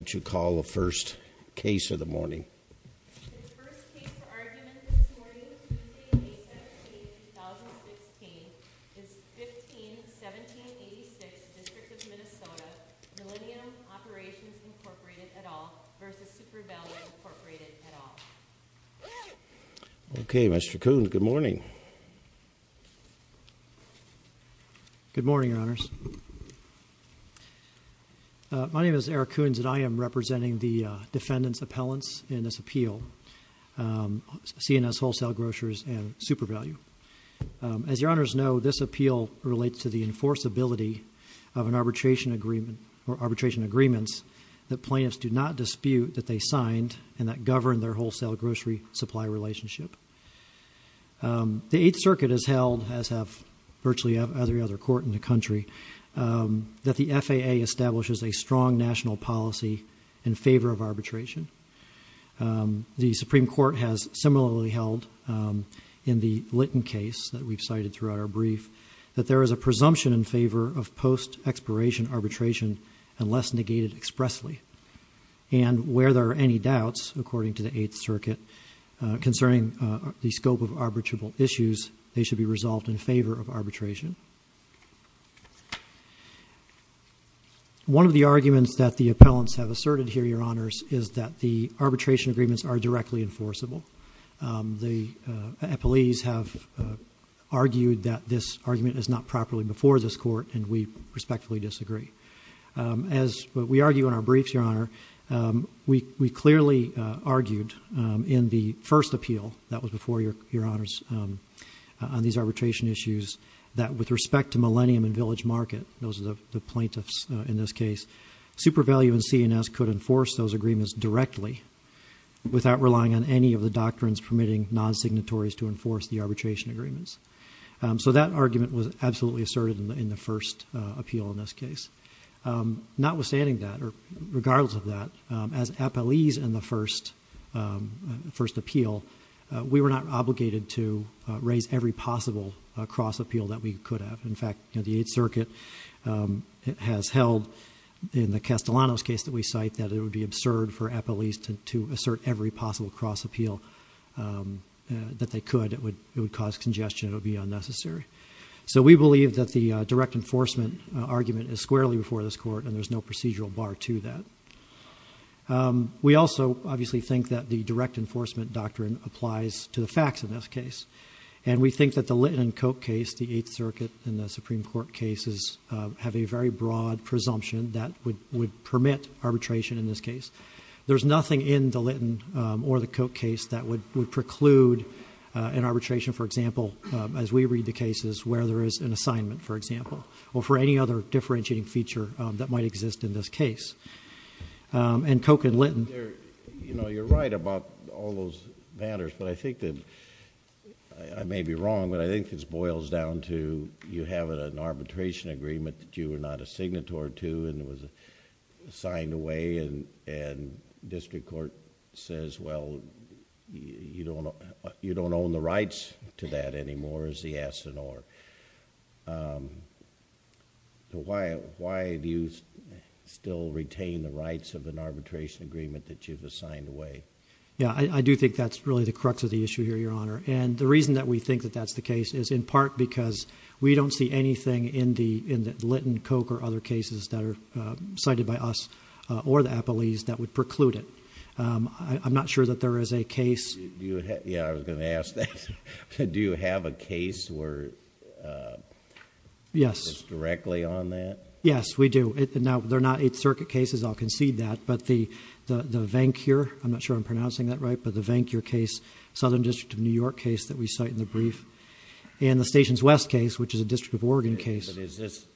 What would you call the first case of the morning? The first case for argument this morning, Tuesday, May 17, 2016, is 15-1786, District of Minnesota, Millennium Operations Incorporated, et al. v. Super Value Incorporated, et al. Okay, Mr. Coons, good morning. Good morning, Your Honors. My name is Eric Coons, and I am representing the defendant's appellants in this appeal, C&S Wholesale Grocers and Super Value. As Your Honors know, this appeal relates to the enforceability of an arbitration agreement or arbitration agreements that plaintiffs do not dispute that they signed and that govern their wholesale grocery supply relationship. The Eighth Circuit has held, as have virtually every other court in the country, that the FAA establishes a strong national policy in favor of arbitration. The Supreme Court has similarly held in the Litton case that we've cited throughout our brief that there is a presumption in favor of post-expiration arbitration unless negated expressly. And where there are any doubts, according to the Eighth Circuit, concerning the scope of arbitrable issues, they should be resolved in favor of arbitration. One of the arguments that the appellants have asserted here, Your Honors, is that the arbitration agreements are directly enforceable. The appellees have argued that this argument is not properly before this court, and we respectfully disagree. As we argue in our briefs, Your Honor, we clearly argued in the first appeal that was before Your Honors on these arbitration issues that with respect to Millennium and Village Market, those are the plaintiffs in this case, Super Value and C&S could enforce those agreements directly without relying on any of the doctrines permitting non-signatories to enforce the arbitration agreements. So that argument was absolutely asserted in the first appeal in this case. Notwithstanding that, or regardless of that, as appellees in the first appeal, we were not obligated to raise every possible cross-appeal that we could have. In fact, the Eighth Circuit has held in the Castellanos case that we cite that it would be absurd for appellees to assert every possible cross-appeal that they could. It would cause congestion. It would be unnecessary. So we believe that the direct enforcement argument is squarely before this court, and there's no procedural bar to that. We also obviously think that the direct enforcement doctrine applies to the facts in this case. And we think that the Litton and Koch case, the Eighth Circuit and the Supreme Court cases, have a very broad presumption that would permit arbitration in this case. There's nothing in the Litton or the Koch case that would preclude an arbitration, for example, as we read the cases, where there is an assignment, for example, or for any other differentiating feature that might exist in this case. And Koch and Litton... I may be wrong, but I think this boils down to you having an arbitration agreement that you were not a signatory to and was signed away, and district court says, well, you don't own the rights to that anymore, is the yes and or. Why do you still retain the rights of an arbitration agreement that you've assigned away? Yeah, I do think that's really the crux of the issue here, Your Honor. And the reason that we think that that's the case is in part because we don't see anything in the Litton, Koch, or other cases that are cited by us or the appellees that would preclude it. I'm not sure that there is a case... Yeah, I was going to ask that. Do you have a case where... Yes.... it's directly on that? Yes, we do. Now, they're not Eighth Circuit cases, I'll concede that, but the Vancure... I'm not sure I'm pronouncing that right, but the Vancure case, Southern District of New York case that we cite in the brief, and the Stations West case, which is a District of Oregon case. But is this...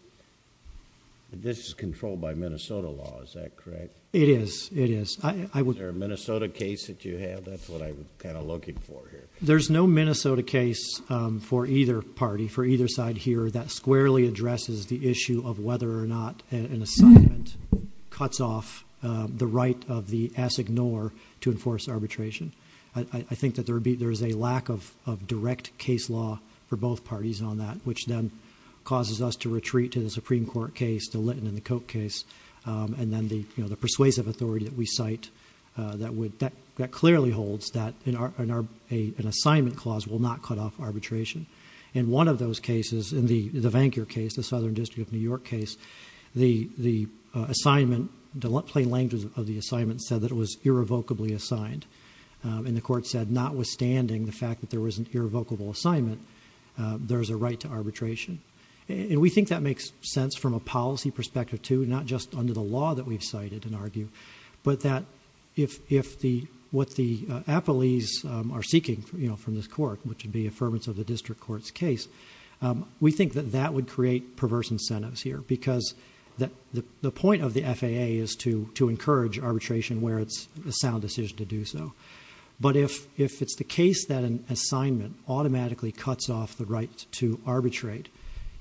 this is controlled by Minnesota law, is that correct? It is, it is. Is there a Minnesota case that you have? That's what I'm kind of looking for here. There's no Minnesota case for either party, for either side here, that squarely addresses the issue of whether or not an assignment cuts off the right of the assignor to enforce arbitration. I think that there is a lack of direct case law for both parties on that, which then causes us to retreat to the Supreme Court case, to Litton and the Koch case, and then the persuasive authority that we cite that would... that clearly holds that an assignment clause will not cut off arbitration. In one of those cases, in the Vancure case, the Southern District of New York case, the assignment... the plain language of the assignment said that it was irrevocably assigned. And the court said notwithstanding the fact that there was an irrevocable assignment, there's a right to arbitration. And we think that makes sense from a policy perspective, too, not just under the law that we've cited and argued, but that if the... what the appellees are seeking, you know, from this court, which would be affirmance of the district court's case, we think that that would create perverse incentives here, because the point of the FAA is to encourage arbitration where it's a sound decision to do so. But if it's the case that an assignment automatically cuts off the right to arbitrate,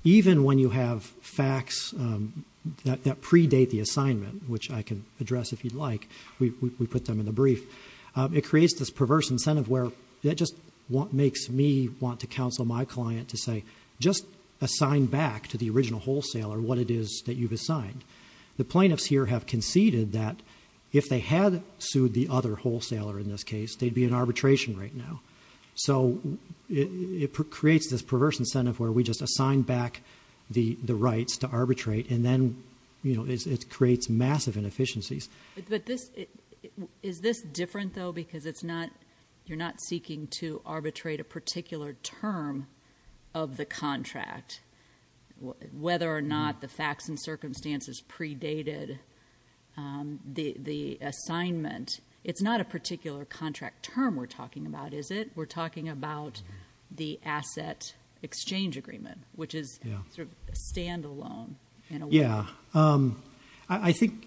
even when you have facts that predate the assignment, which I can address if you'd like, we put them in the brief, it creates this perverse incentive where that just makes me want to counsel my client to say, just assign back to the original wholesaler what it is that you've assigned. The plaintiffs here have conceded that if they had sued the other wholesaler in this case, they'd be in arbitration right now. So, it creates this perverse incentive where we just assign back the rights to arbitrate, and then, you know, it creates massive inefficiencies. But this... is this different, though, because it's not... you're not seeking to arbitrate a particular term of the contract, whether or not the facts and circumstances predated the assignment? It's not a particular contract term we're talking about, is it? We're talking about the asset exchange agreement, which is sort of a standalone in a way. Yeah, I think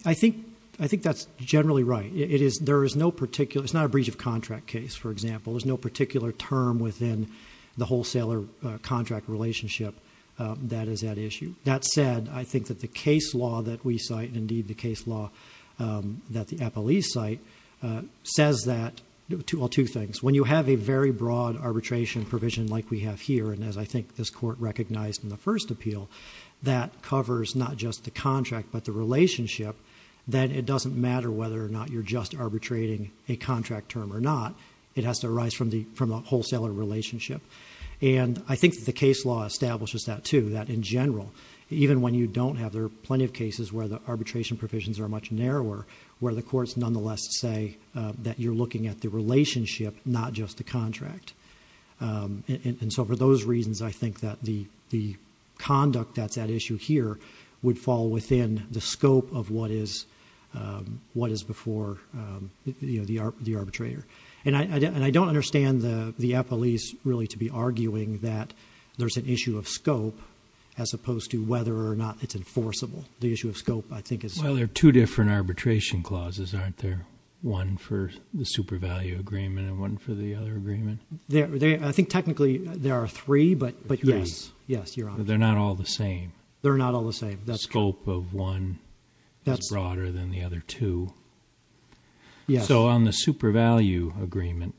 that's generally right. It is... there is no particular... it's not a breach of contract case, for example. There's no particular term within the wholesaler contract relationship that is at issue. That said, I think that the case law that we cite, and, indeed, the case law that the Apple East cite, says that... well, two things. When you have a very broad arbitration provision like we have here, and as I think this Court recognized in the first appeal, that covers not just the contract, but the relationship. Then, it doesn't matter whether or not you're just arbitrating a contract term or not. It has to arise from the wholesaler relationship. And, I think that the case law establishes that, too. Even when you don't have... there are plenty of cases where the arbitration provisions are much narrower, where the courts, nonetheless, say that you're looking at the relationship, not just the contract. And so, for those reasons, I think that the conduct that's at issue here, would fall within the scope of what is before the arbitrator. And, I don't understand the Apple East really to be arguing that there's an issue of scope, as opposed to whether or not it's enforceable. The issue of scope, I think, is... Well, there are two different arbitration clauses, aren't there? One for the super value agreement, and one for the other agreement. I think, technically, there are three, but... There are three. Yes, Your Honor. But, they're not all the same. They're not all the same. The scope of one is broader than the other two. Yes. So, on the super value agreement,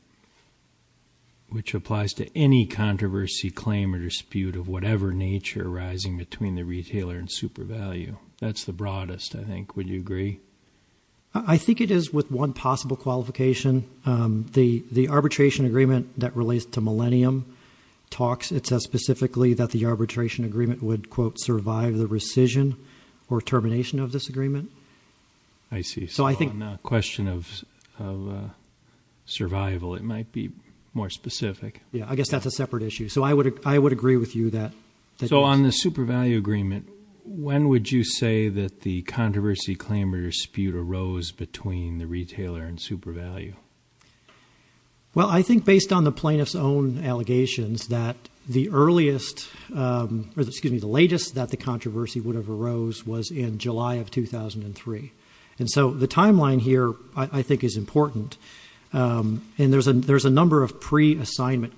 which applies to any controversy, claim, or dispute of whatever nature arising between the retailer and super value, that's the broadest, I think. Would you agree? I think it is, with one possible qualification. The arbitration agreement that relates to Millennium talks. It says, specifically, that the arbitration agreement would, quote, survive the rescission or termination of this agreement. I see. So, on the question of survival, it might be more specific. Yes. I guess that's a separate issue. So, I would agree with you that... So, on the super value agreement, when would you say that the controversy, claim, or dispute arose between the retailer and super value? Well, I think, based on the plaintiff's own allegations, that the earliest... Excuse me. The latest that the controversy would have arose was in July of 2003. And so, the timeline here, I think, is important. And there's a number of pre-assignment...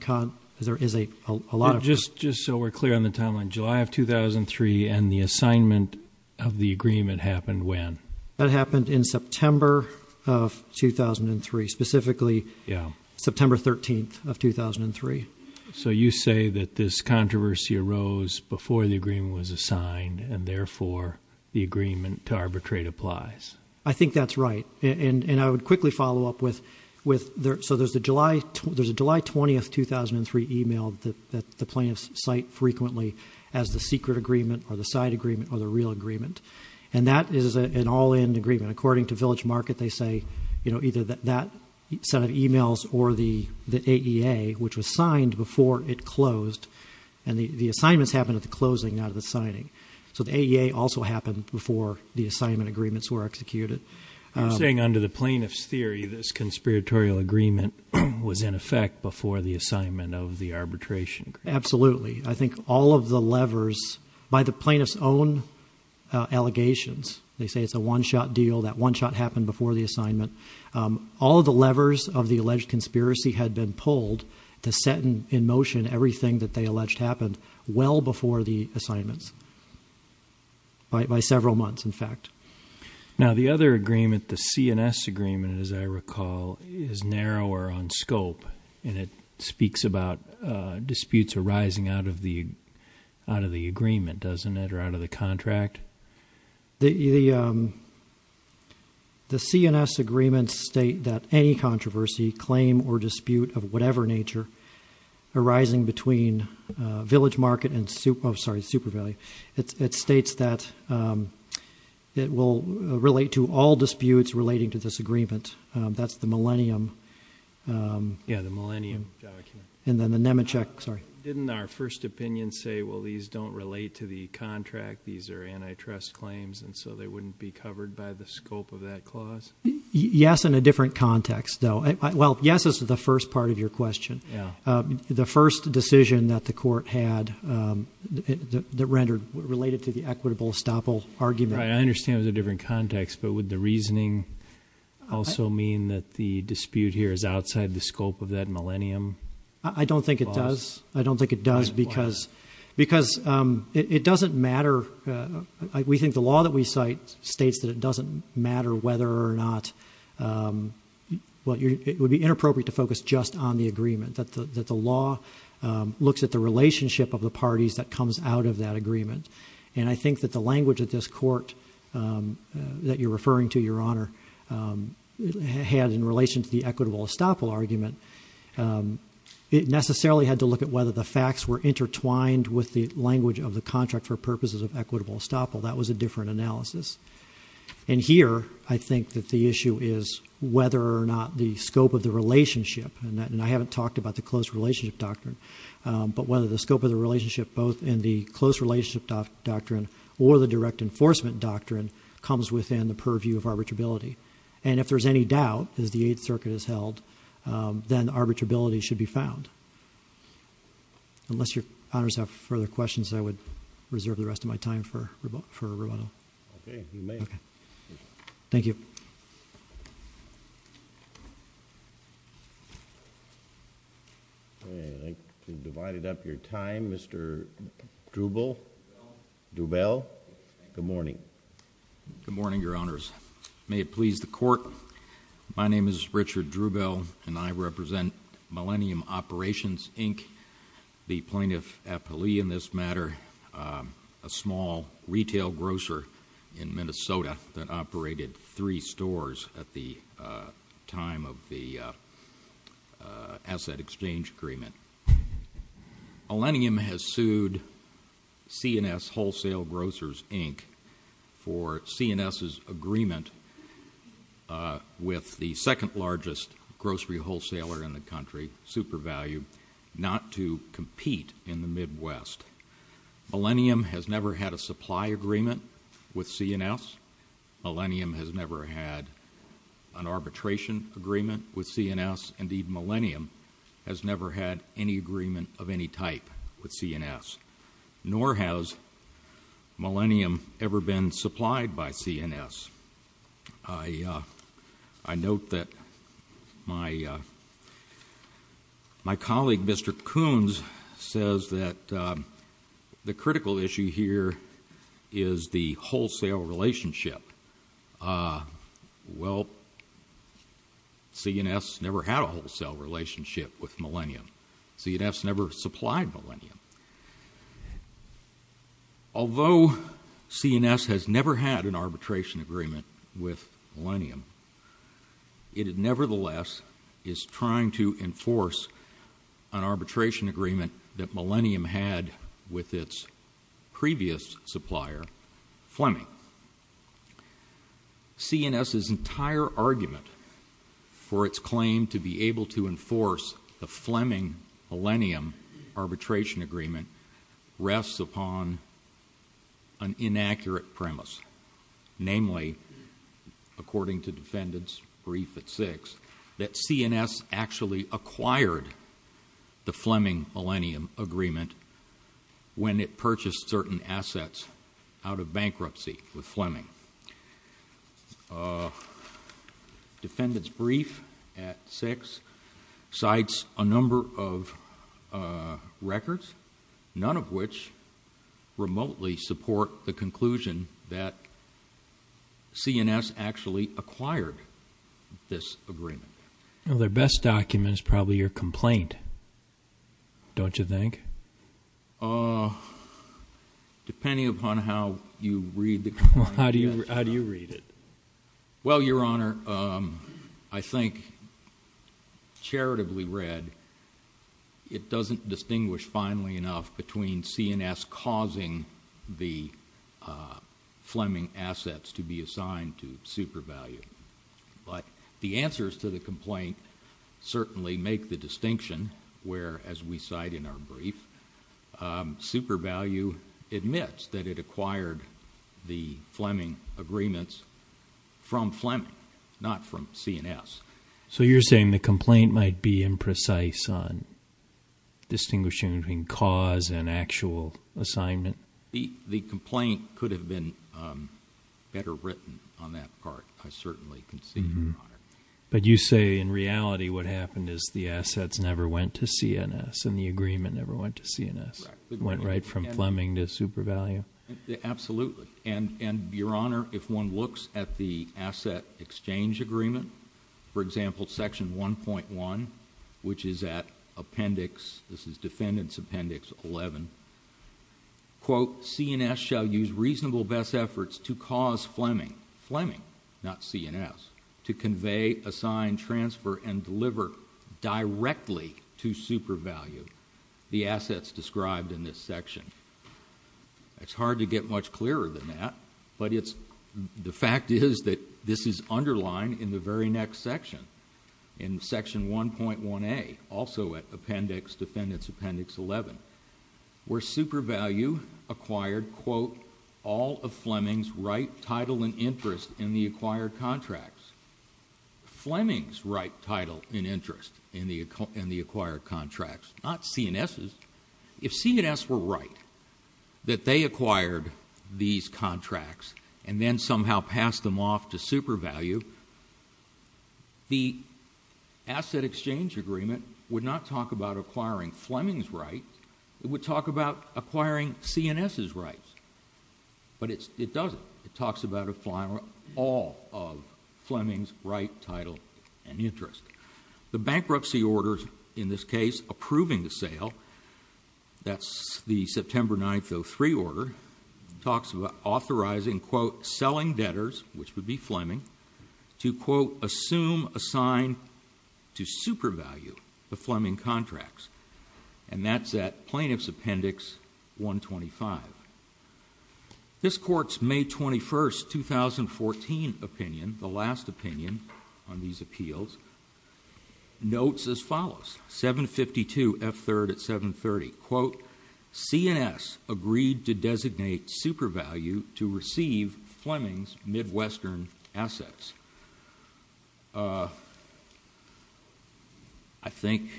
Just so we're clear on the timeline, July of 2003 and the assignment of the agreement happened when? That happened in September of 2003. Specifically, September 13th of 2003. So, you say that this controversy arose before the agreement was assigned and, therefore, the agreement to arbitrate applies. I think that's right. And I would quickly follow up with... So, there's a July 20th, 2003 email that the plaintiffs cite frequently as the secret agreement or the side agreement or the real agreement. And that is an all-in agreement. According to Village Market, they say, you know, either that set of emails or the AEA, which was signed before it closed. And the assignments happened at the closing, not at the signing. So, the AEA also happened before the assignment agreements were executed. You're saying, under the plaintiff's theory, this conspiratorial agreement was in effect before the assignment of the arbitration agreement. Absolutely. I think all of the levers, by the plaintiff's own allegations... They say it's a one-shot deal. That one shot happened before the assignment. All of the levers of the alleged conspiracy had been pulled to set in motion everything that they alleged happened well before the assignments. By several months, in fact. Now, the other agreement, the CNS agreement, as I recall, is narrower on scope. And it speaks about disputes arising out of the agreement, doesn't it, or out of the contract? The CNS agreement states that any controversy, claim or dispute of whatever nature, arising between Village Market and Super... Oh, sorry, Super Valley. It states that it will relate to all disputes relating to this agreement. That's the Millennium... Yeah, the Millennium document. And then, the Nemechek... Sorry. Didn't our first opinion say, well, these don't relate to the contract. These are antitrust claims, and so they wouldn't be covered by the scope of that clause? Yes, in a different context, though. Well, yes is the first part of your question. Yeah. The first decision that the court had that rendered related to the equitable estoppel argument. Right. I understand it was a different context, but would the reasoning also mean that the dispute here is outside the scope of that Millennium clause? I don't think it does. I don't think it does because... Why not? Because it doesn't matter. We think the law that we cite states that it doesn't matter whether or not... Well, it would be inappropriate to focus just on the agreement, that the law looks at the relationship of the parties that comes out of that agreement. And I think that the language of this court that you're referring to, Your Honor, had in relation to the equitable estoppel argument, it necessarily had to look at whether the facts were intertwined with the language of the contract for purposes of equitable estoppel. That was a different analysis. And here, I think that the issue is whether or not the scope of the relationship, and I haven't talked about the close relationship doctrine, but whether the scope of the relationship, both in the close relationship doctrine or the direct enforcement doctrine, comes within the purview of arbitrability. And if there's any doubt, as the Eighth Circuit has held, then arbitrability should be found. Unless Your Honors have further questions, I would reserve the rest of my time for Rubato. Okay. You may. Thank you. I'd like to divide up your time, Mr. Drubel. Good morning. Good morning, Your Honors. May it please the Court. My name is Richard Drubel, and I represent Millennium Operations, Inc., the plaintiff at Pelee in this matter, a small retail grocer in Minnesota that operated three stores at the time of the asset exchange agreement. Millennium has sued C&S Wholesale Grocers, Inc. for C&S's agreement with the second largest grocery wholesaler in the country, Super Value, not to compete in the Midwest. Millennium has never had a supply agreement with C&S. Millennium has never had an arbitration agreement with C&S. Indeed, Millennium has never had any agreement of any type with C&S, nor has Millennium ever been supplied by C&S. I note that my colleague, Mr. Coons, says that the critical issue here is the wholesale relationship. Well, C&S never had a wholesale relationship with Millennium. C&S never supplied Millennium. Although C&S has never had an arbitration agreement with Millennium, it nevertheless is trying to enforce an arbitration agreement that Millennium had with its previous supplier, Fleming. C&S's entire argument for its claim to be able to enforce the Fleming-Millennium arbitration agreement rests upon an inaccurate premise, namely, according to Defendant's brief at 6, that C&S actually acquired the Fleming-Millennium agreement when it purchased certain assets out of bankruptcy with Fleming. Defendant's brief at 6 cites a number of records, none of which remotely support the conclusion that C&S actually acquired this agreement. Well, their best document is probably your complaint, don't you think? Depending upon how you read the complaint. How do you read it? Well, Your Honor, I think, charitably read, it doesn't distinguish finely enough between C&S causing the Fleming assets to be assigned to super value. But the answers to the complaint certainly make the distinction where, as we cite in our brief, super value admits that it acquired the Fleming agreements from Fleming, not from C&S. So you're saying the complaint might be imprecise on distinguishing between cause and actual assignment? The complaint could have been better written on that part. I certainly can see that. But you say, in reality, what happened is the assets never went to C&S and the agreement never went to C&S. It went right from Fleming to super value? Absolutely. And, Your Honor, if one looks at the asset exchange agreement, for example, section 1.1, which is at appendix... this is defendant's appendix 11. Quote, C&S shall use reasonable best efforts to cause Fleming... Fleming, not C&S... to convey, assign, transfer, and deliver directly to super value the assets described in this section. It's hard to get much clearer than that, but it's... the fact is that this is underlined in the very next section, in section 1.1A, also at appendix... defendant's appendix 11, where super value acquired, quote, all of Fleming's right, title, and interest in the acquired contracts. Fleming's right, title, and interest in the acquired contracts, not C&S's. If C&S were right, that they acquired these contracts and then somehow passed them off to super value... the asset exchange agreement would not talk about acquiring Fleming's right. It would talk about acquiring C&S's rights. But, it doesn't. It talks about all of Fleming's right, title, and interest. The bankruptcy order, in this case, approving the sale... that's the September 9, 2003 order... talks about authorizing, quote, selling debtors, which would be Fleming... to, quote, assume, assign, to super value the Fleming contracts. And, that's at plaintiff's appendix 125. This Court's May 21, 2014 opinion, the last opinion on these appeals... notes as follows, 752 F. 3rd at 730, quote... C&S agreed to designate super value to receive Fleming's Midwestern assets. I think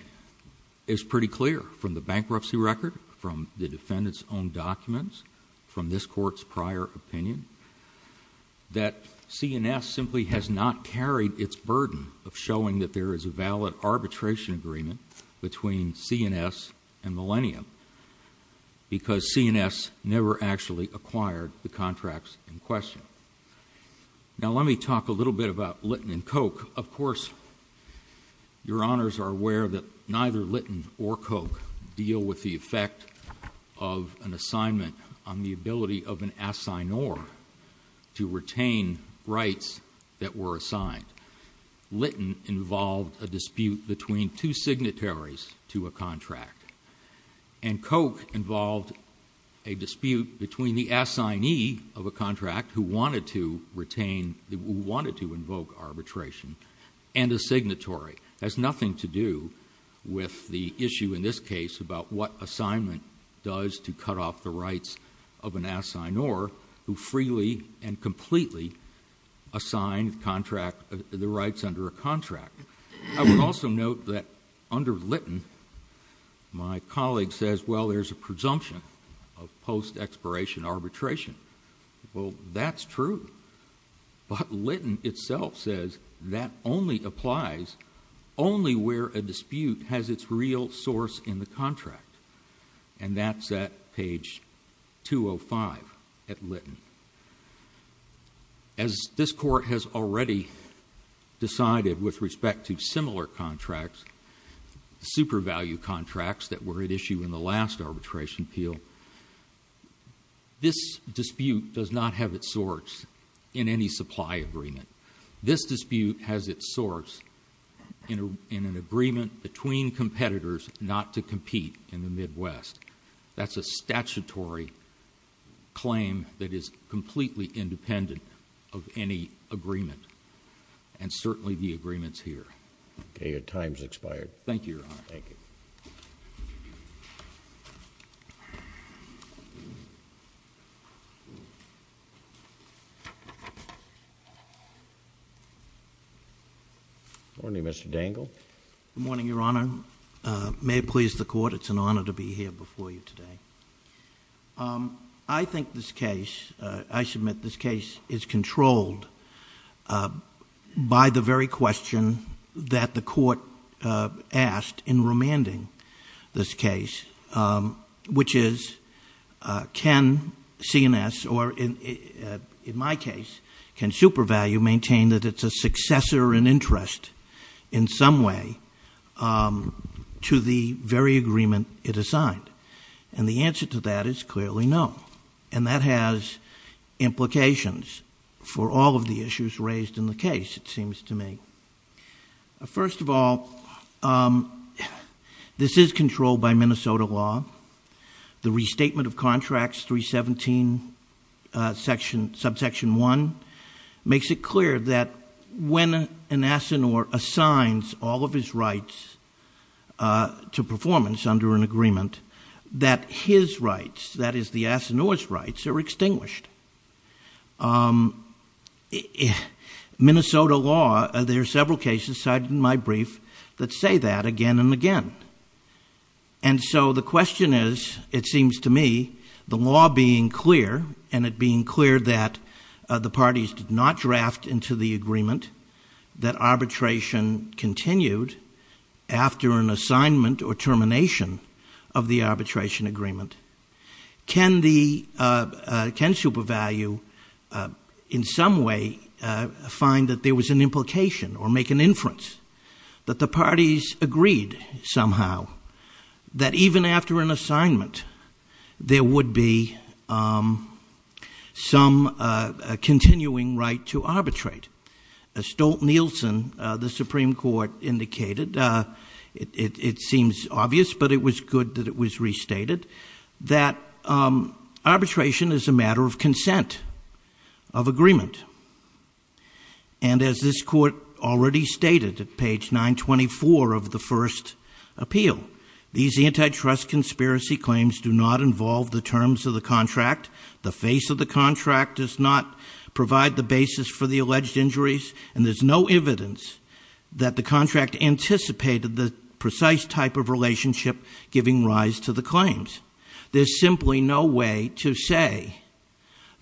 it's pretty clear from the bankruptcy record, from the defendant's own documents... from this Court's prior opinion... that C&S simply has not carried its burden of showing that there is a valid arbitration agreement... between C&S and Millennium. Because, C&S never actually acquired the contracts in question. Now, let me talk a little bit about Litton and Koch. Of course, your Honors are aware that neither Litton or Koch deal with the effect of an assignment... on the ability of an assignor to retain rights that were assigned. Litton involved a dispute between two signatories to a contract. And, Koch involved a dispute between the assignee of a contract who wanted to retain... who wanted to invoke arbitration, and a signatory. That has nothing to do with the issue in this case about what assignment does to cut off the rights of an assignor... who freely and completely assigned the rights under a contract. I would also note that under Litton, my colleague says, well there's a presumption of post-expiration arbitration. Well, that's true. But, Litton itself says that only applies only where a dispute has its real source in the contract. And, that's at page 205 at Litton. As this Court has already decided with respect to similar contracts... super value contracts that were at issue in the last arbitration appeal... this dispute does not have its source in any supply agreement. This dispute has its source in an agreement between competitors not to compete in the Midwest. That's a statutory claim that is completely independent of any agreement. And, certainly the agreement is here. Okay. Your time has expired. Thank you, Your Honor. Thank you. Good morning, Mr. Dangle. Good morning, Your Honor. May it please the Court, it's an honor to be here before you today. I think this case... I submit this case is controlled... by the very question that the Court asked in remanding this case... which is, can CNS or in my case, can super value maintain that it's a successor in interest... in some way, to the very agreement it assigned. And, the answer to that is clearly no. And, that has implications for all of the issues raised in the case, it seems to me. First of all, this is controlled by Minnesota law. The restatement of Contracts 317, Subsection 1, makes it clear that... when an asinore assigns all of his rights to performance under an agreement... that his rights, that is the asinore's rights, are extinguished. Minnesota law, there are several cases cited in my brief, that say that again and again. And so, the question is, it seems to me, the law being clear... and it being clear that the parties did not draft into the agreement... that arbitration continued after an assignment or termination of the arbitration agreement... can the, can super value, in some way, find that there was an implication or make an inference... that the parties agreed, somehow, that even after an assignment... there would be some continuing right to arbitrate. Stolt-Nielsen, the Supreme Court indicated, it seems obvious, but it was good that it was restated... that arbitration is a matter of consent, of agreement. And, as this Court already stated at page 924 of the first appeal... these antitrust conspiracy claims do not involve the terms of the contract. The face of the contract does not provide the basis for the alleged injuries... and there's no evidence that the contract anticipated the precise type of relationship giving rise to the claims. There's simply no way to say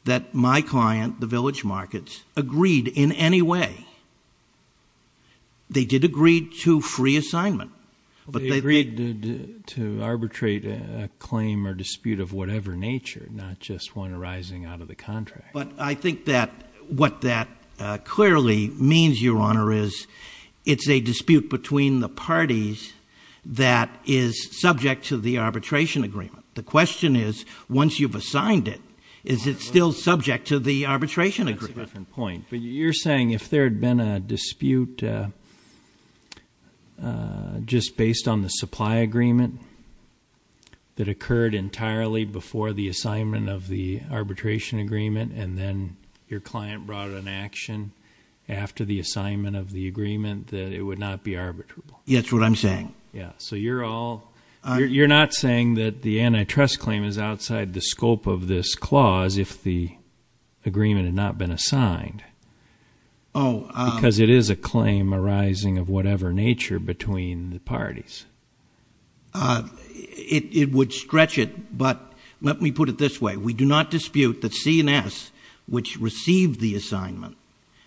that my client, the Village Markets, agreed in any way. They did agree to free assignment. But, they agreed to arbitrate a claim or dispute of whatever nature, not just one arising out of the contract. But, I think that what that clearly means, Your Honor, is it's a dispute between the parties... The question is, once you've assigned it, is it still subject to the arbitration agreement? That's a different point. But, you're saying if there had been a dispute, just based on the supply agreement... that occurred entirely before the assignment of the arbitration agreement... and then, your client brought an action after the assignment of the agreement... that it would not be arbitrable. That's what I'm saying. Yeah. So, you're all... You're not saying that the antitrust claim is outside the scope of this clause, if the agreement had not been assigned. Oh. Because, it is a claim arising of whatever nature, between the parties. It would stretch it, but let me put it this way. We do not dispute that CNS, which received the assignment,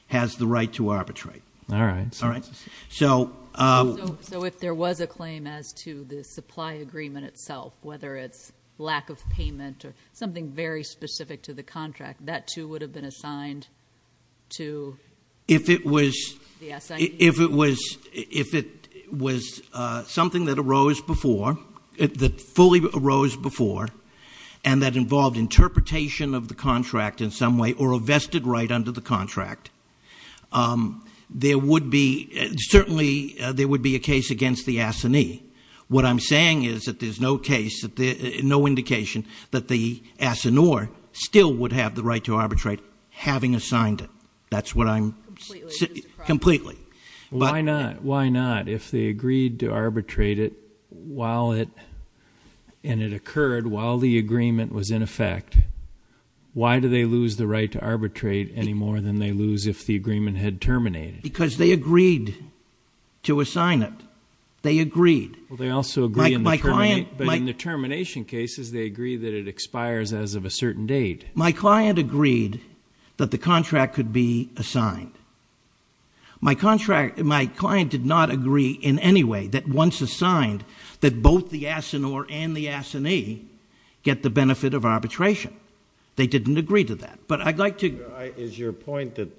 has the right to arbitrate. All right. All right. So... So, if there was a claim as to the supply agreement itself, whether it's lack of payment or something very specific to the contract... that, too, would have been assigned to... If it was... the assignment... If it was... If it was something that arose before... that fully arose before... and that involved interpretation of the contract in some way, or a vested right under the contract... there would be... certainly, there would be a case against the assignee. What I'm saying is that there's no case... no indication that the assigneur still would have the right to arbitrate, having assigned it. That's what I'm... Completely. Completely. Why not? Why not? If they agreed to arbitrate it, while it... and it occurred while the agreement was in effect... Why do they lose the right to arbitrate any more than they lose if the agreement had terminated? Because they agreed to assign it. They agreed. Well, they also agree in the termination... Like my client... But, in the termination cases, they agree that it expires as of a certain date. My client agreed that the contract could be assigned. My contract... my client did not agree in any way that once assigned... that both the assigneur and the assignee get the benefit of arbitration. They didn't agree to that. But, I'd like to... Is your point that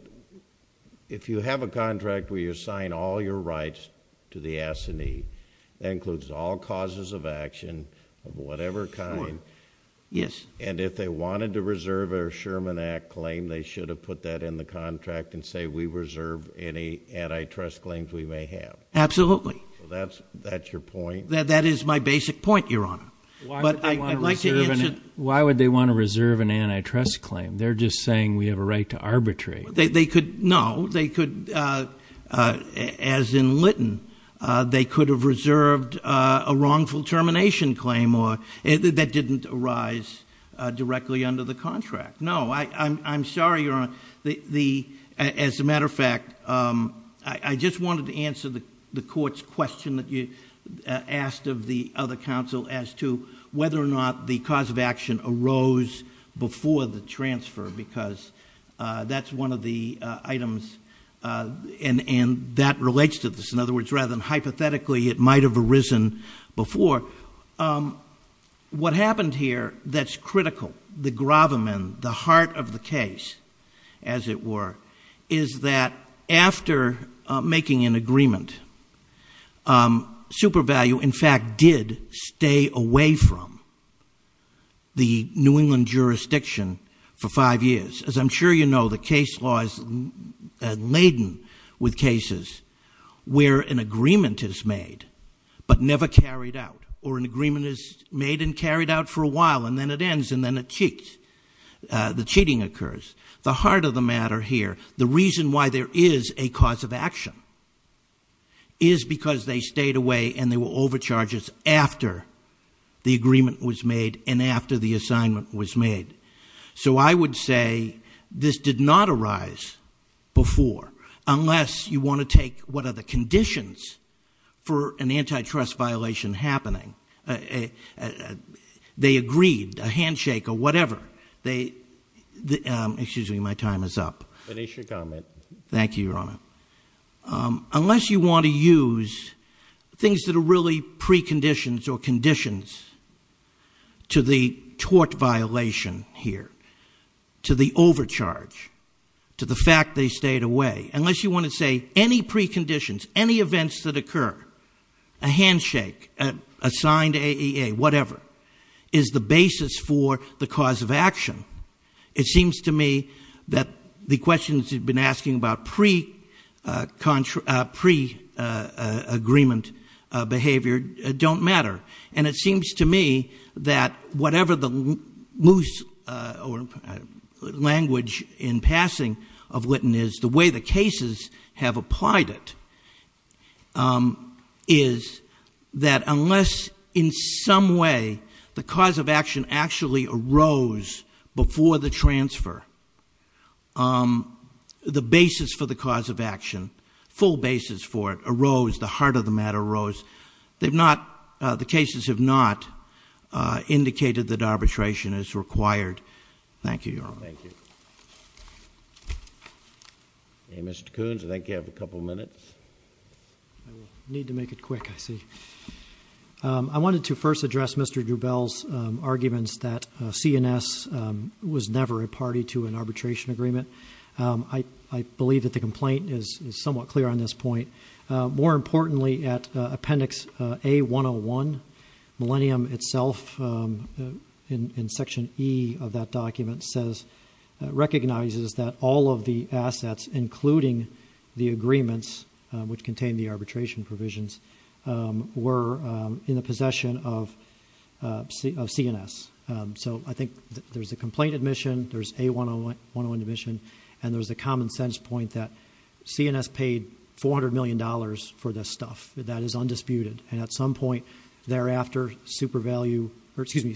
if you have a contract where you assign all your rights to the assignee, that includes all causes of action of whatever kind... Yes. And, if they wanted to reserve a Sherman Act claim, they should have put that in the contract and say, we reserve any antitrust claims we may have. Absolutely. So, that's your point? That is my basic point, Your Honor. But, I'd like to... Why would they want to reserve an antitrust claim? They're just saying, we have a right to arbitrate. They could... No. They could... As in Lytton, they could have reserved a wrongful termination claim that didn't arise directly under the contract. No. I'm sorry, Your Honor. As a matter of fact, I just wanted to answer the court's question that you asked of the other counsel as to whether or not the cause of action arose before the transfer. Because, that's one of the items and that relates to this. In other words, rather than hypothetically, it might have arisen before. What happened here that's critical, the gravamen, the heart of the case, as it were, is that after making an agreement, Super Value, in fact, did stay away from the New England jurisdiction for five years. As I'm sure you know, the case law is laden with cases where an agreement is made, but never carried out. Or, an agreement is made and carried out for a while, and then it ends, and then it cheats. The cheating occurs. The heart of the matter here, the reason why there is a cause of action, is because they stayed away and there were overcharges after the agreement was made and after the assignment was made. So, I would say this did not arise before, unless you want to take what are the conditions for an antitrust violation happening. They agreed, a handshake or whatever. Excuse me, my time is up. Finish your comment. Thank you, Your Honor. Unless you want to use things that are really preconditions or conditions to the tort violation here, to the overcharge, to the fact they stayed away. Unless you want to say any preconditions, any events that occur, a handshake, a signed AEA, whatever, is the basis for the cause of action. It seems to me that the questions you've been asking about pre-agreement behavior don't matter. And it seems to me that whatever the language in passing of Lytton is, the way the cases have applied it, is that unless in some way the cause of action actually arose before the transfer, the basis for the cause of action, full basis for it arose, the heart of the matter arose. The cases have not indicated that arbitration is required. Thank you, Your Honor. Thank you. Mr. Coons, I think you have a couple minutes. I need to make it quick, I see. I wanted to first address Mr. Drubel's arguments that CNS was never a party to an arbitration agreement. I believe that the complaint is somewhat clear on this point. More importantly, at Appendix A101, Millennium itself, in Section E of that document, recognizes that all of the assets, including the agreements which contain the arbitration provisions, were in the possession of CNS. So I think there's a complaint admission, there's A101 admission, and there's a common sense point that CNS paid $400 million for this stuff. That is undisputed. And at some point thereafter, SuperValue, or excuse me,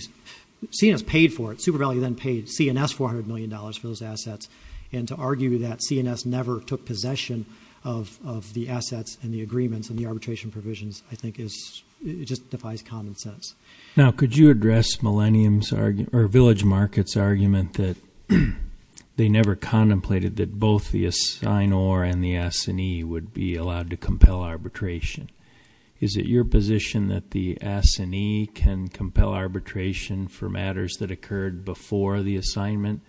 CNS paid for it. SuperValue then paid CNS $400 million for those assets. And to argue that CNS never took possession of the assets and the agreements and the arbitration provisions I think just defies common sense. Now, could you address Village Market's argument that they never contemplated that both the assignor and the assignee would be allowed to compel arbitration? Is it your position that the assignee can compel arbitration for matters that occurred before the assignment?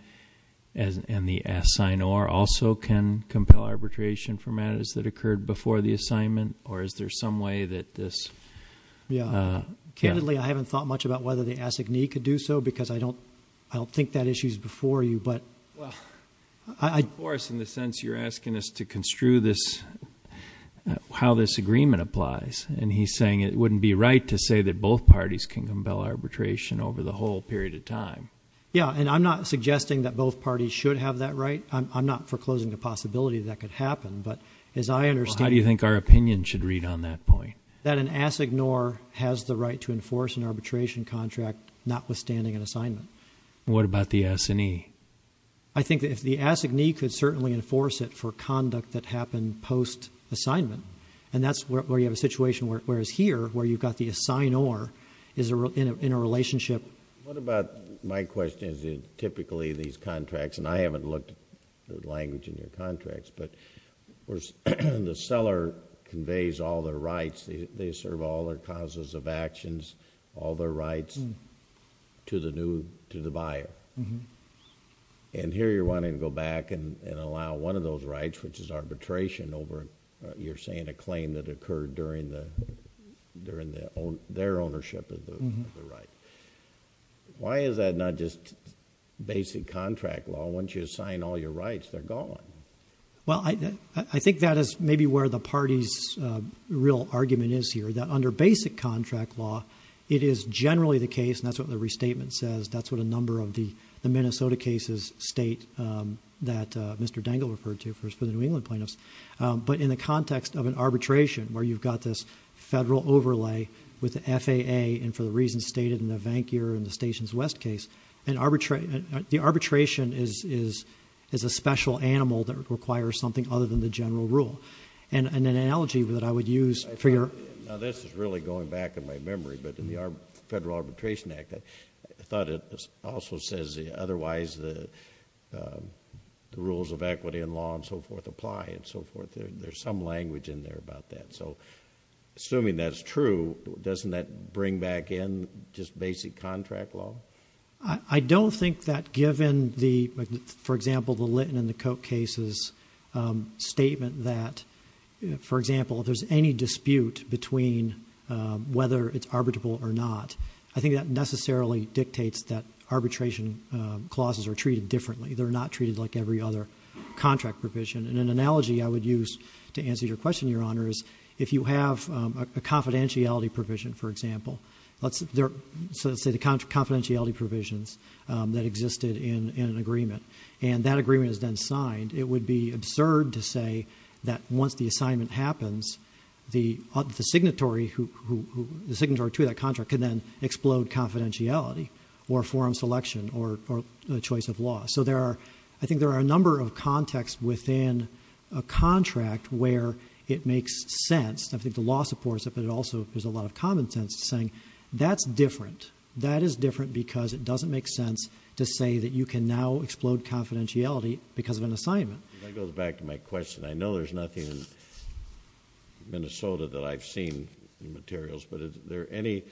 And the assignor also can compel arbitration for matters that occurred before the assignment? Or is there some way that this- Unfortunately, I haven't thought much about whether the assignee could do so because I don't think that issue's before you, but- Well, of course, in the sense you're asking us to construe this, how this agreement applies. And he's saying it wouldn't be right to say that both parties can compel arbitration over the whole period of time. Yeah, and I'm not suggesting that both parties should have that right. I'm not foreclosing the possibility that could happen, but as I understand- Well, how do you think our opinion should read on that point? That an assignor has the right to enforce an arbitration contract notwithstanding an assignment. What about the assignee? I think that if the assignee could certainly enforce it for conduct that happened post-assignment, and that's where you have a situation, whereas here, where you've got the assignor in a relationship- What about, my question is, typically these contracts, and I haven't looked at the language in your contracts, but the seller conveys all their rights, they serve all their causes of actions, all their rights to the buyer. And here you're wanting to go back and allow one of those rights, which is arbitration over, you're saying, a claim that occurred during their ownership of the right. Why is that not just basic contract law? Once you assign all your rights, they're gone. Well, I think that is maybe where the party's real argument is here, that under basic contract law, it is generally the case, and that's what the restatement says, that's what a number of the Minnesota cases state, that Mr. Dengel referred to for the New England plaintiffs. But in the context of an arbitration, where you've got this federal overlay with the FAA, and for the reasons stated in the Vancure and the Stations West case, the arbitration is a special animal that requires something other than the general rule. And an analogy that I would use for your- Now, this is really going back in my memory, but in the Federal Arbitration Act, I thought it also says otherwise the rules of equity and law and so forth apply and so forth. There's some language in there about that. So assuming that's true, doesn't that bring back in just basic contract law? I don't think that given the, for example, the Litton and the Koch cases' statement that, for example, if there's any dispute between whether it's arbitrable or not, I think that necessarily dictates that arbitration clauses are treated differently. They're not treated like every other contract provision. And an analogy I would use to answer your question, Your Honor, is if you have a confidentiality provision, for example, let's say the confidentiality provisions that existed in an agreement, and that agreement is then signed, it would be absurd to say that once the assignment happens, the signatory to that contract could then explode confidentiality or forum selection or choice of law. So there are, I think there are a number of contexts within a contract where it makes sense. I think the law supports it, but it also, there's a lot of common sense saying that's different. That is different because it doesn't make sense to say that you can now explode confidentiality because of an assignment. That goes back to my question. I know there's nothing in Minnesota that I've seen in the materials, but is there any,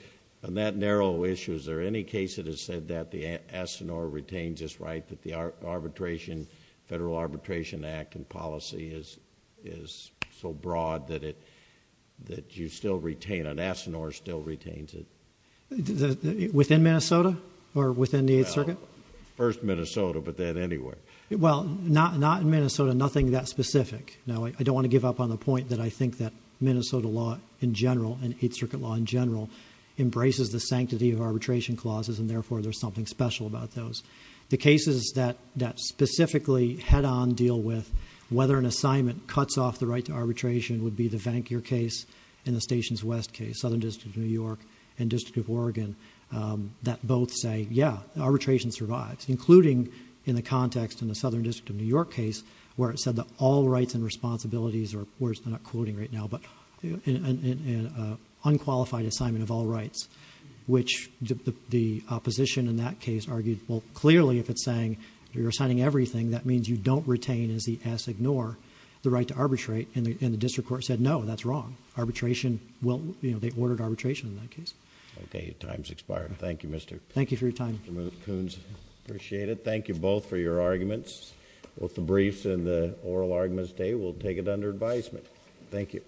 on that narrow issue, is there any case that has said that the ASINOR retains its right that the arbitration, Federal Arbitration Act and policy is so broad that you still retain it, ASINOR still retains it? Within Minnesota or within the Eighth Circuit? Well, first Minnesota, but then anywhere. Well, not in Minnesota, nothing that specific. Now, I don't want to give up on the point that I think that Minnesota law in general and Eighth Circuit law in general embraces the sanctity of arbitration clauses, and therefore there's something special about those. The cases that specifically head-on deal with whether an assignment cuts off the right to arbitration would be the Vancure case and the Stations West case, Southern District of New York and District of Oregon, that both say, yeah, arbitration survives, including in the context in the Southern District of New York case where it said that all rights and responsibilities are... I'm not quoting right now, but an unqualified assignment of all rights, which the opposition in that case argued, well, clearly if it's saying you're assigning everything, that means you don't retain, as the ASINOR, the right to arbitrate, and the district court said, no, that's wrong. Arbitration will... you know, they ordered arbitration in that case. Okay. Time's expired. Thank you, Mr.... Thank you for your time. Mr. Coons, appreciate it. Thank you both for your arguments, both the briefs and the oral arguments today. We'll take it under advisement. Thank you.